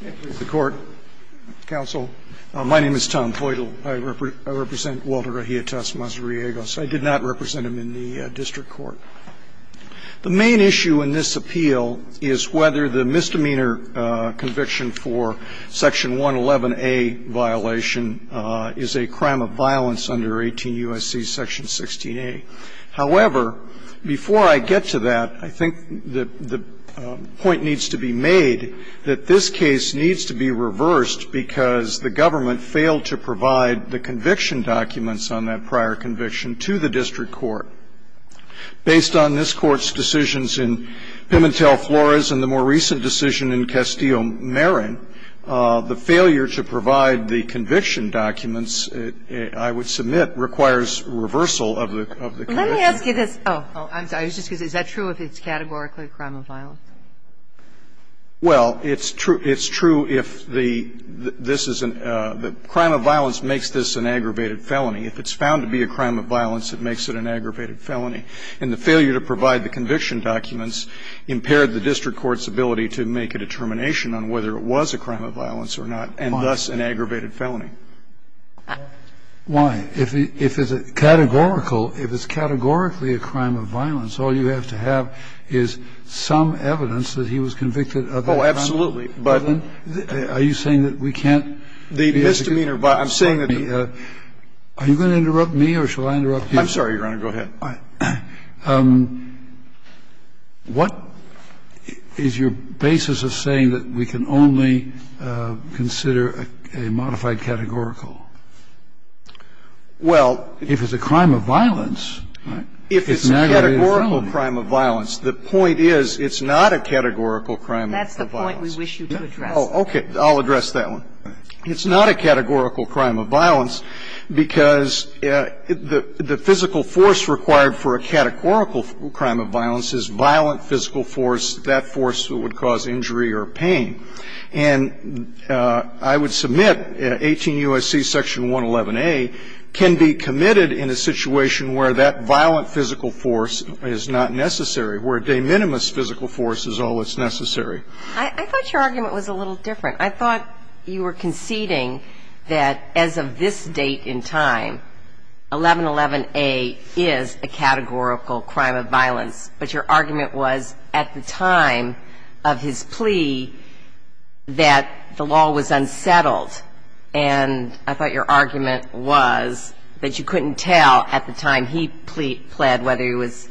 The main issue in this appeal is whether the misdemeanor conviction for Section 111A violation is a crime of violence under 18 U.S.C. Section 16A. However, before I get to that, I think that the point needs to be made that this is a crime of violence under 18 U.S.C. Section 16A, and that this case needs to be reversed because the government failed to provide the conviction documents on that prior conviction to the district court. Based on this Court's decisions in Pimentel-Flores and the more recent decision in Castillo-Marin, the failure to provide the conviction documents, I would submit, requires reversal of the conviction. That's my view. It's a crime of violence. Well, it's true if the this is a crime of violence makes this an aggravated felony. If it's found to be a crime of violence, it makes it an aggravated felony. And the failure to provide the conviction documents impaired the district court's ability to make a determination on whether it was a crime of violence or not and, thus, an aggravated felony. Why? If it's categorical, if it's categorically a crime of violence, all you have to have is some evidence that he was convicted of that crime. Oh, absolutely. Are you saying that we can't be able to do that? The misdemeanor by the district court. Are you going to interrupt me or shall I interrupt you? I'm sorry, Your Honor. Go ahead. All right. What is your basis of saying that we can only consider a modified categorical? Well, if it's a crime of violence, it's an aggravated felony. If it's a categorical crime of violence, the point is it's not a categorical crime of violence. That's the point we wish you to address. Oh, okay. I'll address that one. It's not a categorical crime of violence because the physical force required for a categorical crime of violence is violent physical force, that force that would cause injury or pain. And I would submit 18 U.S.C. section 111A can be committed in a situation where that violent physical force is not necessary, where de minimis physical force is all that's necessary. I thought your argument was a little different. I thought you were conceding that as of this date in time, 1111A is a categorical crime of violence. But your argument was at the time of his plea that the law was unsettled. And I thought your argument was that you couldn't tell at the time he pled whether it was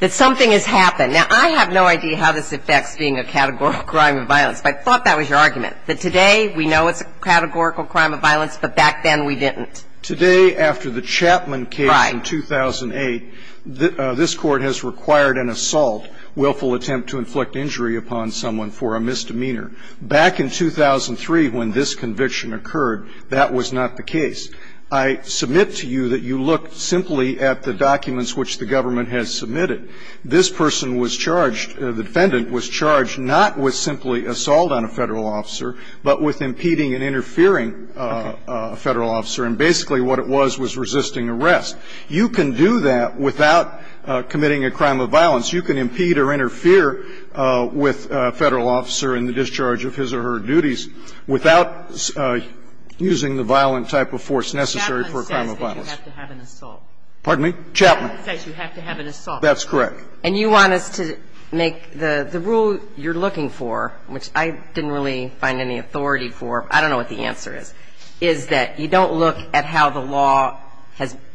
that something has happened. Now, I have no idea how this affects being a categorical crime of violence, but I thought that was your argument, that today we know it's a categorical crime of violence, but back then we didn't. Today, after the Chapman case in 2008, this Court has required an assault, willful attempt to inflict injury upon someone for a misdemeanor. Back in 2003 when this conviction occurred, that was not the case. I submit to you that you look simply at the documents which the government has submitted. This person was charged, the defendant was charged, not with simply assault on a Federal officer, but with impeding and interfering a Federal officer. And basically what it was, was resisting arrest. You can do that without committing a crime of violence. You can impede or interfere with a Federal officer in the discharge of his or her duties without using the violent type of force necessary for a crime of violence. And you want us to make the rule you're looking for, which I didn't really find any authority for, I don't know what the answer is, is that you don't look at how the law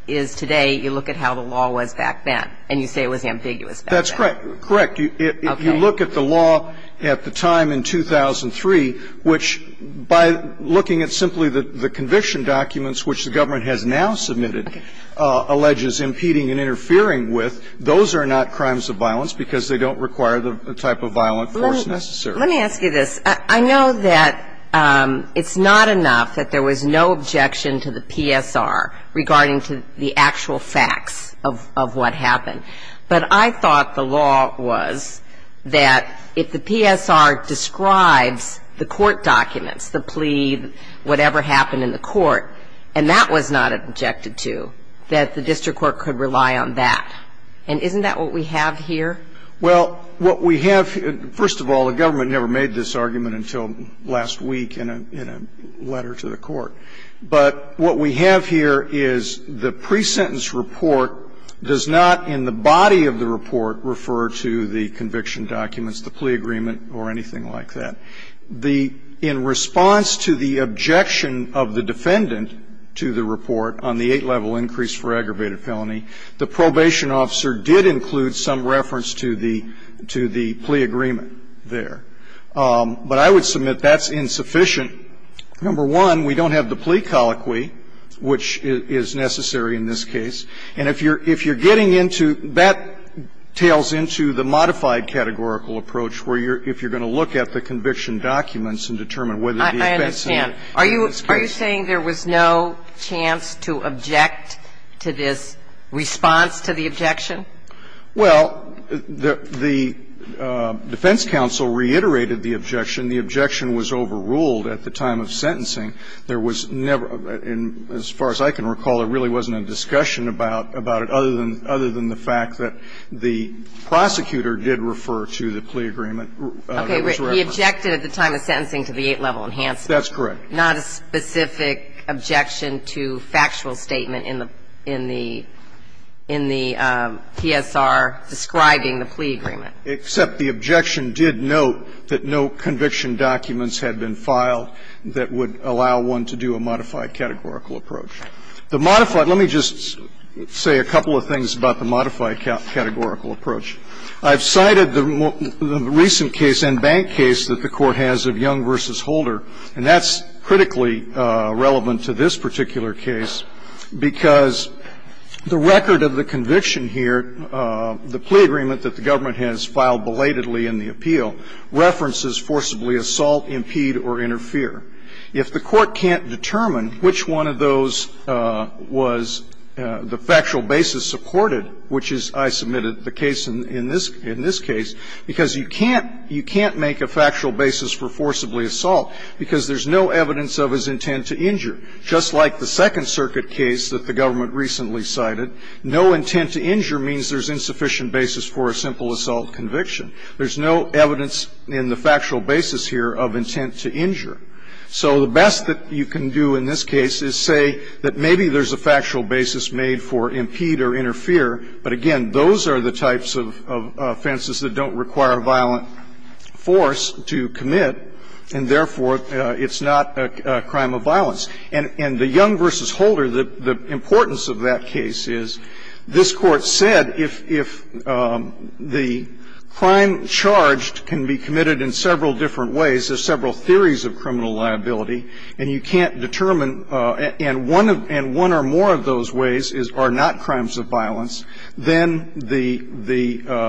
is today, you look at how the law was back then, and you say it was ambiguous back then. That's correct. Correct. Okay. If you look at the law at the time in 2003, which by looking at simply the conviction documents which the government has now submitted alleges impeding and interfering with, those are not crimes of violence because they don't require the type of violent force necessary. Let me ask you this. I know that it's not enough that there was no objection to the PSR regarding to the actual facts of what happened. But I thought the law was that if the PSR describes the court documents, the plea, whatever happened in the court, and that was not objected to, that the district court could rely on that. And isn't that what we have here? Well, what we have here, first of all, the government never made this argument until last week in a letter to the court. But what we have here is the pre-sentence report does not in the body of the report refer to the conviction documents, the plea agreement, or anything like that. The – in response to the objection of the defendant to the report on the eight-level increase for aggravated felony, the probation officer did include some reference to the plea agreement there. But I would submit that's insufficient. Number one, we don't have the plea colloquy, which is necessary in this case. And if you're getting into – that tails into the modified categorical approach where you're – if you're going to look at the conviction documents and determine whether the offense needed to be increased. Are you saying there was no chance to object to this response to the objection? Well, the defense counsel reiterated the objection. The objection was overruled at the time of sentencing. There was never – and as far as I can recall, there really wasn't a discussion about it other than – other than the fact that the prosecutor did refer to the plea agreement that was referred. Okay. He objected at the time of sentencing to the eight-level enhancement. That's correct. Not a specific objection to factual statement in the – in the PSR describing the plea agreement. Except the objection did note that no conviction documents had been filed that would allow one to do a modified categorical approach. The modified – let me just say a couple of things about the modified categorical approach. I've cited the recent case and bank case that the Court has of Young v. Holder. And that's critically relevant to this particular case because the record of the conviction here, the plea agreement that the government has filed belatedly in the appeal, references forcibly assault, impede, or interfere. If the Court can't determine which one of those was the factual basis supported, which is, I submitted the case in this – in this case, because you can't – you can't make a factual basis for forcibly assault because there's no evidence of his intent to injure, just like the Second Circuit case that the government recently cited. No intent to injure means there's insufficient basis for a simple assault conviction. There's no evidence in the factual basis here of intent to injure. So the best that you can do in this case is say that maybe there's a factual basis made for impede or interfere, but again, those are the types of offenses that don't require violent force to commit, and therefore, it's not a crime of violence. And the Young v. Holder, the importance of that case is, this Court said if the crime charged can be committed in several different ways, there's several theories of criminal liability, and you can't determine – and one of – and one or more of those ways is – are not crimes of violence, then the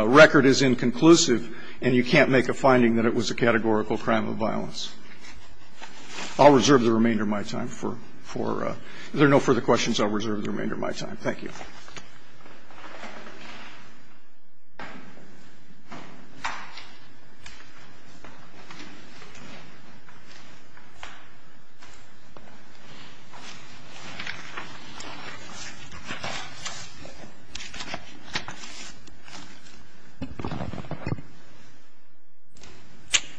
record is inconclusive and you can't make a finding that it was a categorical crime of violence. I'll reserve the remainder of my time for – for – if there are no further questions, I'll reserve the remainder of my time. Thank you.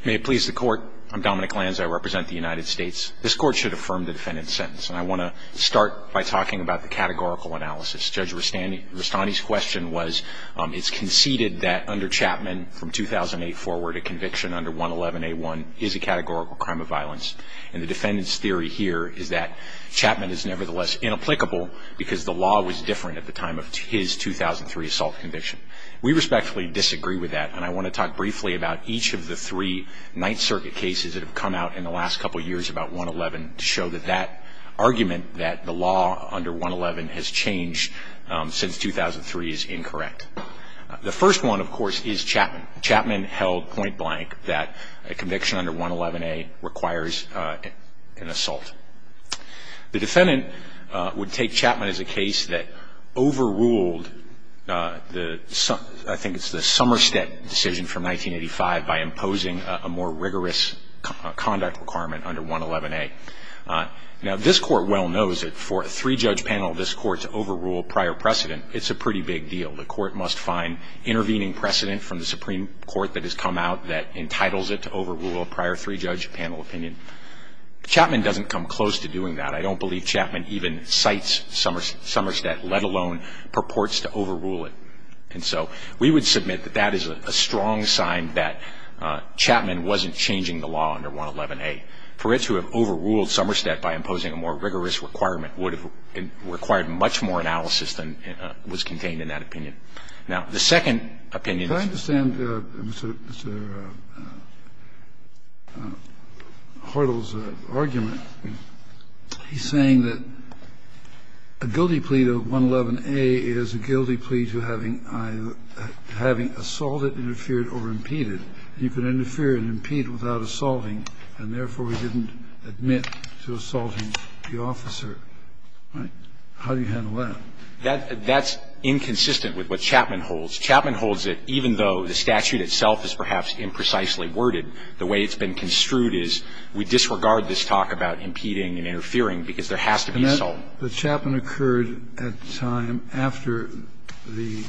May it please the Court. I'm Dominic Lanz. I represent the United States. This Court should affirm the defendant's sentence, and I want to start by talking about the categorical analysis. Judge Rustani's question was, it's conceded that under Chapman, from 2008 forward, a conviction under 111A1 is a categorical crime of violence, and the defendant's theory here is that Chapman is nevertheless inapplicable because the law was different at the time of his 2003 assault conviction. We respectfully disagree with that, and I want to talk briefly about each of the three Ninth Circuit cases that have come out in the last couple years about 111 to show that that argument that the law under 111 has changed since 2003 is incorrect. The first one, of course, is Chapman. Chapman held point blank that a conviction under 111A requires an assault. The defendant would take Chapman as a case that overruled the – I think it's the most rigorous conduct requirement under 111A. Now, this Court well knows that for a three-judge panel of this Court to overrule prior precedent, it's a pretty big deal. The Court must find intervening precedent from the Supreme Court that has come out that entitles it to overrule a prior three-judge panel opinion. Chapman doesn't come close to doing that. I don't believe Chapman even cites Somerset, let alone purports to overrule it. And so we would submit that that is a strong sign that Chapman wasn't changing the law under 111A. For it to have overruled Somerset by imposing a more rigorous requirement would have required much more analysis than was contained in that opinion. Now, the second opinion is the same. Kennedy. Can I understand Mr. Hartle's argument? He's saying that a guilty plea to 111A is a guilty plea to having assaulted, interfered, or impeded. You can interfere and impede without assaulting, and therefore, we didn't admit to assaulting the officer. How do you handle that? That's inconsistent with what Chapman holds. Chapman holds that even though the statute itself is perhaps imprecisely worded, the way it's been construed is we disregard this talk about impeding and interfering because there has to be assault. But Chapman occurred at the time after the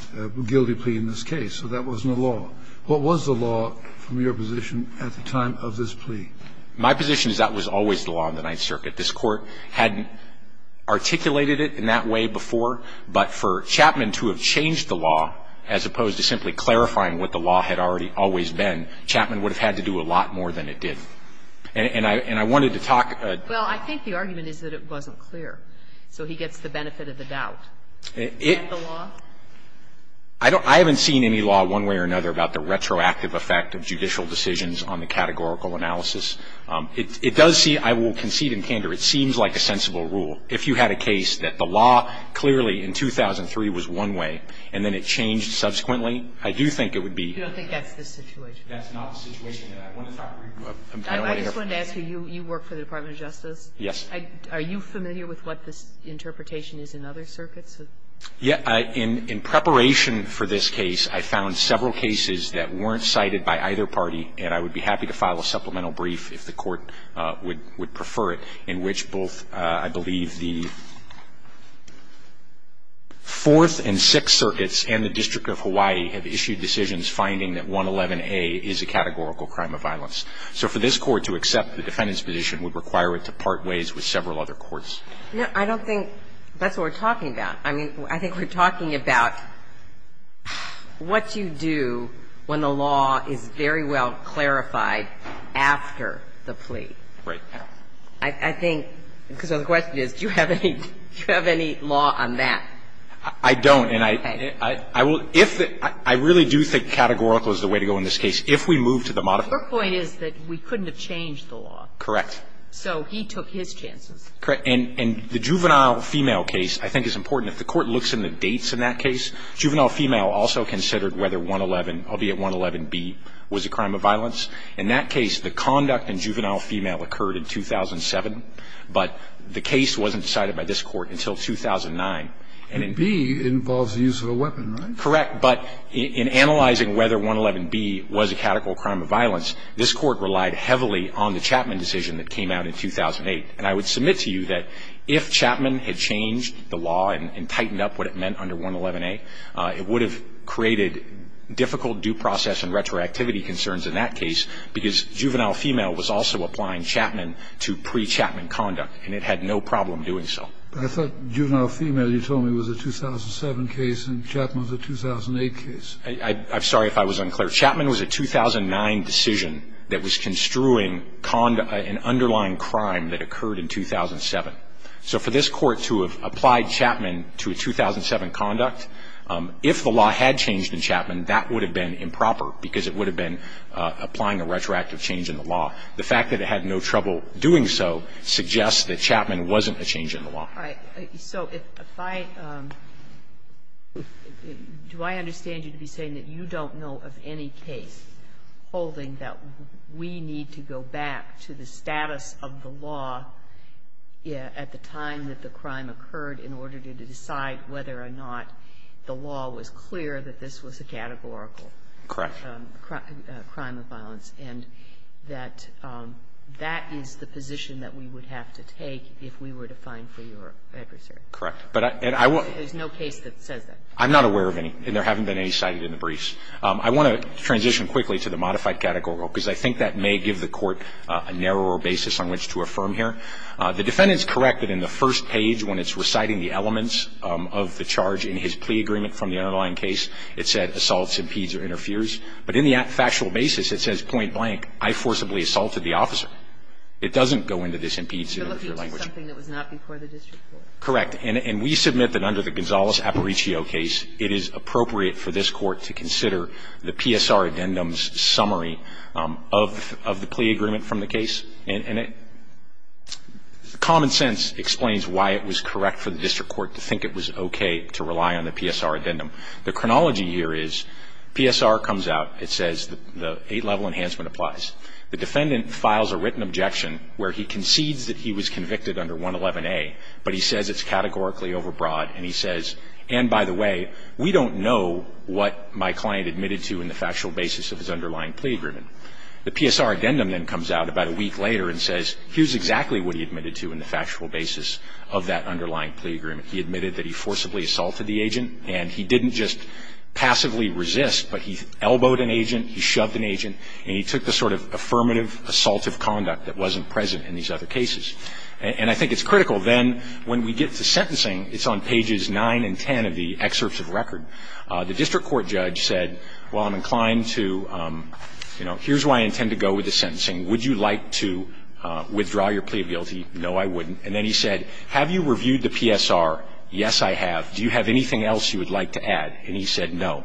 guilty plea in this case. So that wasn't a law. What was the law from your position at the time of this plea? My position is that was always the law in the Ninth Circuit. This Court had articulated it in that way before, but for Chapman to have changed the law, as opposed to simply clarifying what the law had already always been, Chapman would have had to do a lot more than it did. And I wanted to talk. Well, I think the argument is that it wasn't clear. So he gets the benefit of the doubt. Is that the law? I haven't seen any law one way or another about the retroactive effect of judicial decisions on the categorical analysis. It does see, I will concede in candor, it seems like a sensible rule. If you had a case that the law clearly in 2003 was one way and then it changed subsequently, I do think it would be. You don't think that's the situation? That's not the situation. And I want to talk. I just wanted to ask you. You work for the Department of Justice. Yes. Are you familiar with what this interpretation is in other circuits? Yeah. In preparation for this case, I found several cases that weren't cited by either party, and I would be happy to file a supplemental brief if the Court would prefer to do so. But I don't think that's what we're talking about. I think we're talking about what you do when the law is very well clarified after the plea. Right. I think, because the question is, do you have any law on that? what we're talking about. I really do think categorical is the way to go in this case. If we move to the modified. Your point is that we couldn't have changed the law. Correct. So he took his chances. Correct. And the juvenile female case, I think, is important. If the Court looks in the dates in that case, juvenile female also considered whether 111, albeit 111B, was a crime of violence. In that case, the conduct in juvenile female occurred in 2007, but the case wasn't cited by this Court until 2009. And B involves the use of a weapon, right? Correct. But in analyzing whether 111B was a categorical crime of violence, this Court relied heavily on the Chapman decision that came out in 2008. And I would submit to you that if Chapman had changed the law and tightened up what it meant under 111A, it would have created difficult due process and retroactivity concerns in that case, because juvenile female was also applying Chapman to pre-Chapman conduct, and it had no problem doing so. But I thought juvenile female, you told me, was a 2007 case and Chapman was a 2008 case. I'm sorry if I was unclear. Chapman was a 2009 decision that was construing an underlying crime that occurred in 2007. So for this Court to have applied Chapman to a 2007 conduct, if the law had changed in Chapman, that would have been improper, because it would have been applying a retroactive change in the law. The fact that it had no trouble doing so suggests that Chapman wasn't a change in the law. All right. So if I do I understand you to be saying that you don't know of any case holding that we need to go back to the status of the law at the time that the crime occurred in order to decide whether or not the law was clear that this was a categorical crime of violence? Correct. And that that is the position that we would have to take if we were to find for your adversary? Correct. But I won't There's no case that says that. I'm not aware of any, and there haven't been any cited in the briefs. I want to transition quickly to the modified categorical, because I think that may give the Court a narrower basis on which to affirm here. The defendant is correct that in the first page, when it's reciting the elements of the charge in his plea agreement from the underlying case, it said assaults, impedes, or interferes. But in the factual basis, it says, point blank, I forcibly assaulted the officer. It doesn't go into this impedes or interferes language. You're looking at something that was not before the district court. Correct. And we submit that under the Gonzales-Aparicio case, it is appropriate for this Court to consider the PSR addendum's summary of the plea agreement from the case. And common sense explains why it was correct for the district court to think it was okay to rely on the PSR addendum. The chronology here is PSR comes out, it says the 8-level enhancement applies. The defendant files a written objection where he concedes that he was convicted under 111A, but he says it's categorically overbroad, and he says, and by the way, we don't know what my client admitted to in the factual basis of his underlying plea agreement. The PSR addendum then comes out about a week later and says, here's exactly what he admitted to in the factual basis of that underlying plea agreement. He admitted that he forcibly assaulted the agent, and he didn't just passively resist, but he elbowed an agent, he shoved an agent, and he took the sort of affirmative assaultive conduct that wasn't present in these other cases. And I think it's critical then, when we get to sentencing, it's on pages 9 and 10 of the excerpts of record. The district court judge said, well, I'm inclined to, you know, here's why I intend to go with the sentencing. Would you like to withdraw your plea of guilty? No, I wouldn't. And then he said, have you reviewed the PSR? Yes, I have. Do you have anything else you would like to add? And he said, no.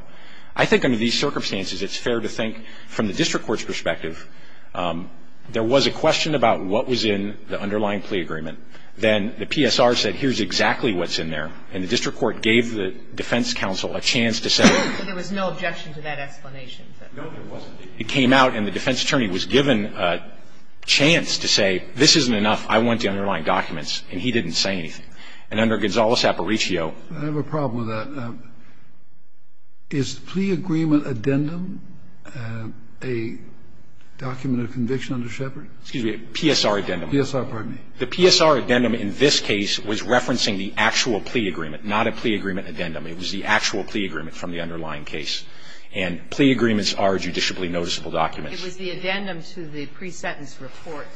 I think under these circumstances, it's fair to think, from the district court's perspective, there was a question about what was in the underlying plea agreement. Then the PSR said, here's exactly what's in there. And the district court gave the defense counsel a chance to say no, there was no objection to that explanation. No, there wasn't. It came out and the defense attorney was given a chance to say, this isn't enough. I want the underlying documents. And he didn't say anything. And under Gonzales-Aparicio ---- I have a problem with that. Is the plea agreement addendum a document of conviction under Shepard? Excuse me, PSR addendum. PSR, pardon me. The PSR addendum in this case was referencing the actual plea agreement, not a plea agreement addendum. It was the actual plea agreement from the underlying case. And plea agreements are judicially noticeable documents. It was the addendum to the pre-sentence report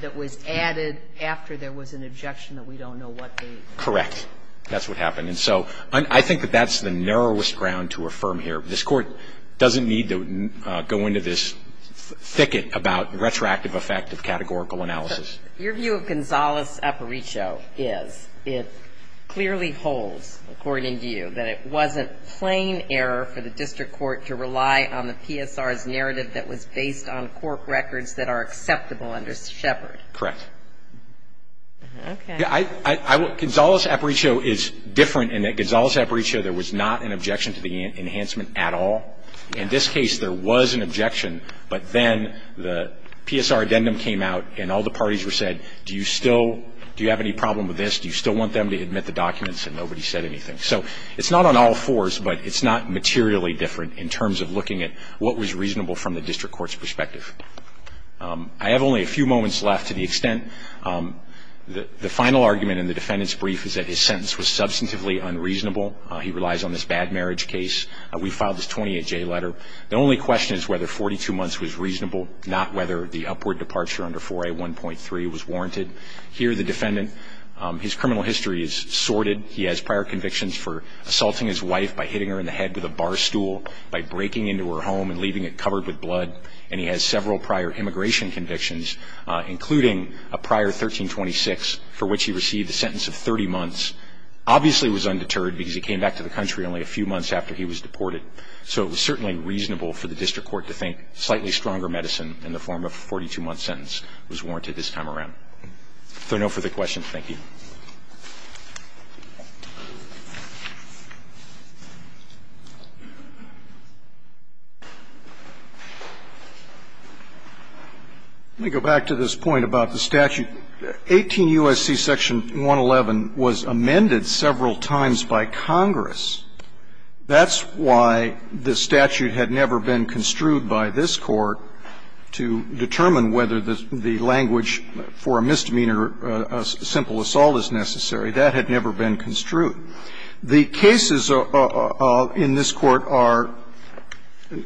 that was added after there was an objection that we don't know what the ---- Correct. That's what happened. And so I think that that's the narrowest ground to affirm here. This Court doesn't need to go into this thicket about retroactive effect of categorical analysis. Your view of Gonzales-Aparicio is it clearly holds, according to you, that it wasn't a plain error for the district court to rely on the PSR's narrative that was based on court records that are acceptable under Shepard. Correct. Okay. I ---- Gonzales-Aparicio is different in that Gonzales-Aparicio, there was not an objection to the enhancement at all. In this case, there was an objection, but then the PSR addendum came out and all the parties were said, do you still ---- do you have any problem with this? Do you still want them to admit the documents? And nobody said anything. So it's not on all fours, but it's not materially different in terms of looking at what was reasonable from the district court's perspective. I have only a few moments left to the extent that the final argument in the defendant's brief is that his sentence was substantively unreasonable. He relies on this bad marriage case. We filed this 28-J letter. The only question is whether 42 months was reasonable, not whether the upward departure under 4A1.3 was warranted. Here, the defendant, his criminal history is sorted. He has prior convictions for assaulting his wife by hitting her in the head with a bar stool, by breaking into her home and leaving it covered with blood, and he has several prior immigration convictions, including a prior 1326 for which he received a sentence of 30 months, obviously was undeterred because he came back to the country only a few months after he was deported. So it was certainly reasonable for the district court to think slightly stronger medicine in the form of a 42-month sentence was warranted this time around. If there are no further questions, thank you. Let me go back to this point about the statute. 18 U.S.C. Section 111 was amended several times by Congress. That's why the statute had never been construed by this Court to determine whether the language for a misdemeanor, a simple assault, is necessary. That had never been construed. The cases in this Court are,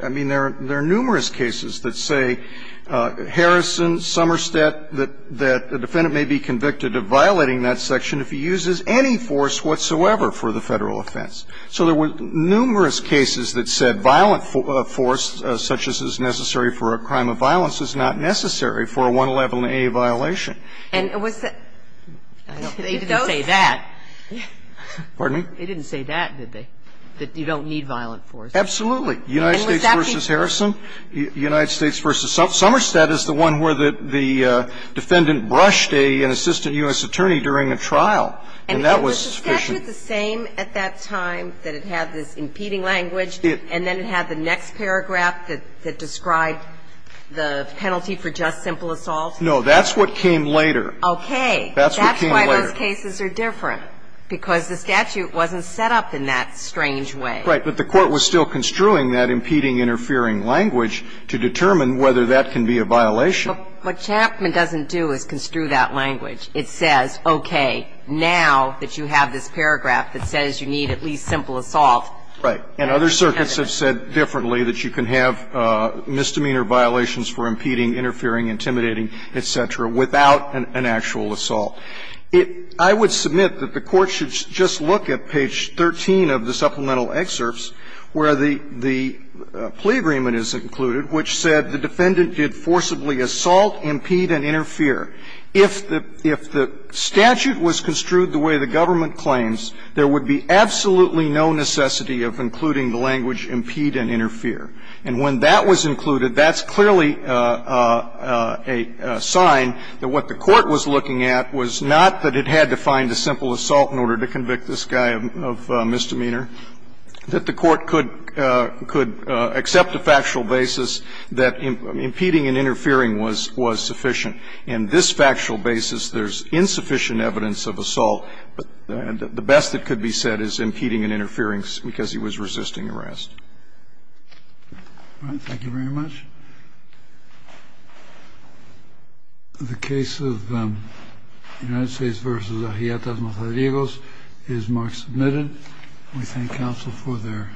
I mean, there are numerous cases that say Harrison, Somerset, that the defendant may be convicted of violating that section if he uses any force whatsoever for the Federal offense. So there were numerous cases that said violent force such as is necessary for a crime of violence is not necessary for a 111a violation. And it was that they didn't say that. Pardon me? They didn't say that, did they, that you don't need violent force? Absolutely. United States v. Harrison, United States v. Somerset is the one where the defendant brushed an assistant U.S. attorney during a trial, and that was sufficient. And was the statute the same at that time that it had this impeding language and then it had the next paragraph that described the penalty for just simple assault? No. That's what came later. Okay. That's what came later. That's why those cases are different, because the statute wasn't set up in that strange way. Right. But the Court was still construing that impeding interfering language to determine whether that can be a violation. But what Chapman doesn't do is construe that language. It says, okay, now that you have this paragraph that says you need at least simple assault. Right. And other circuits have said differently, that you can have misdemeanor violations for impeding, interfering, intimidating, et cetera, without an actual assault. I would submit that the Court should just look at page 13 of the supplemental excerpts where the plea agreement is included, which said the defendant did forcibly assault, impede, and interfere. If the statute was construed the way the government claims, there would be absolutely no necessity of including the language impede and interfere. And when that was included, that's clearly a sign that what the Court was looking at was not that it had to find a simple assault in order to convict this guy of misdemeanor, that the Court could accept a factual basis that impeding and interfering was sufficient. But the best that could be said is impeding and interfering because he was resisting arrest. All right. Thank you very much. The case of the United States v. Arrietas Mazariegos is marked submitted. We thank counsel for their testimony.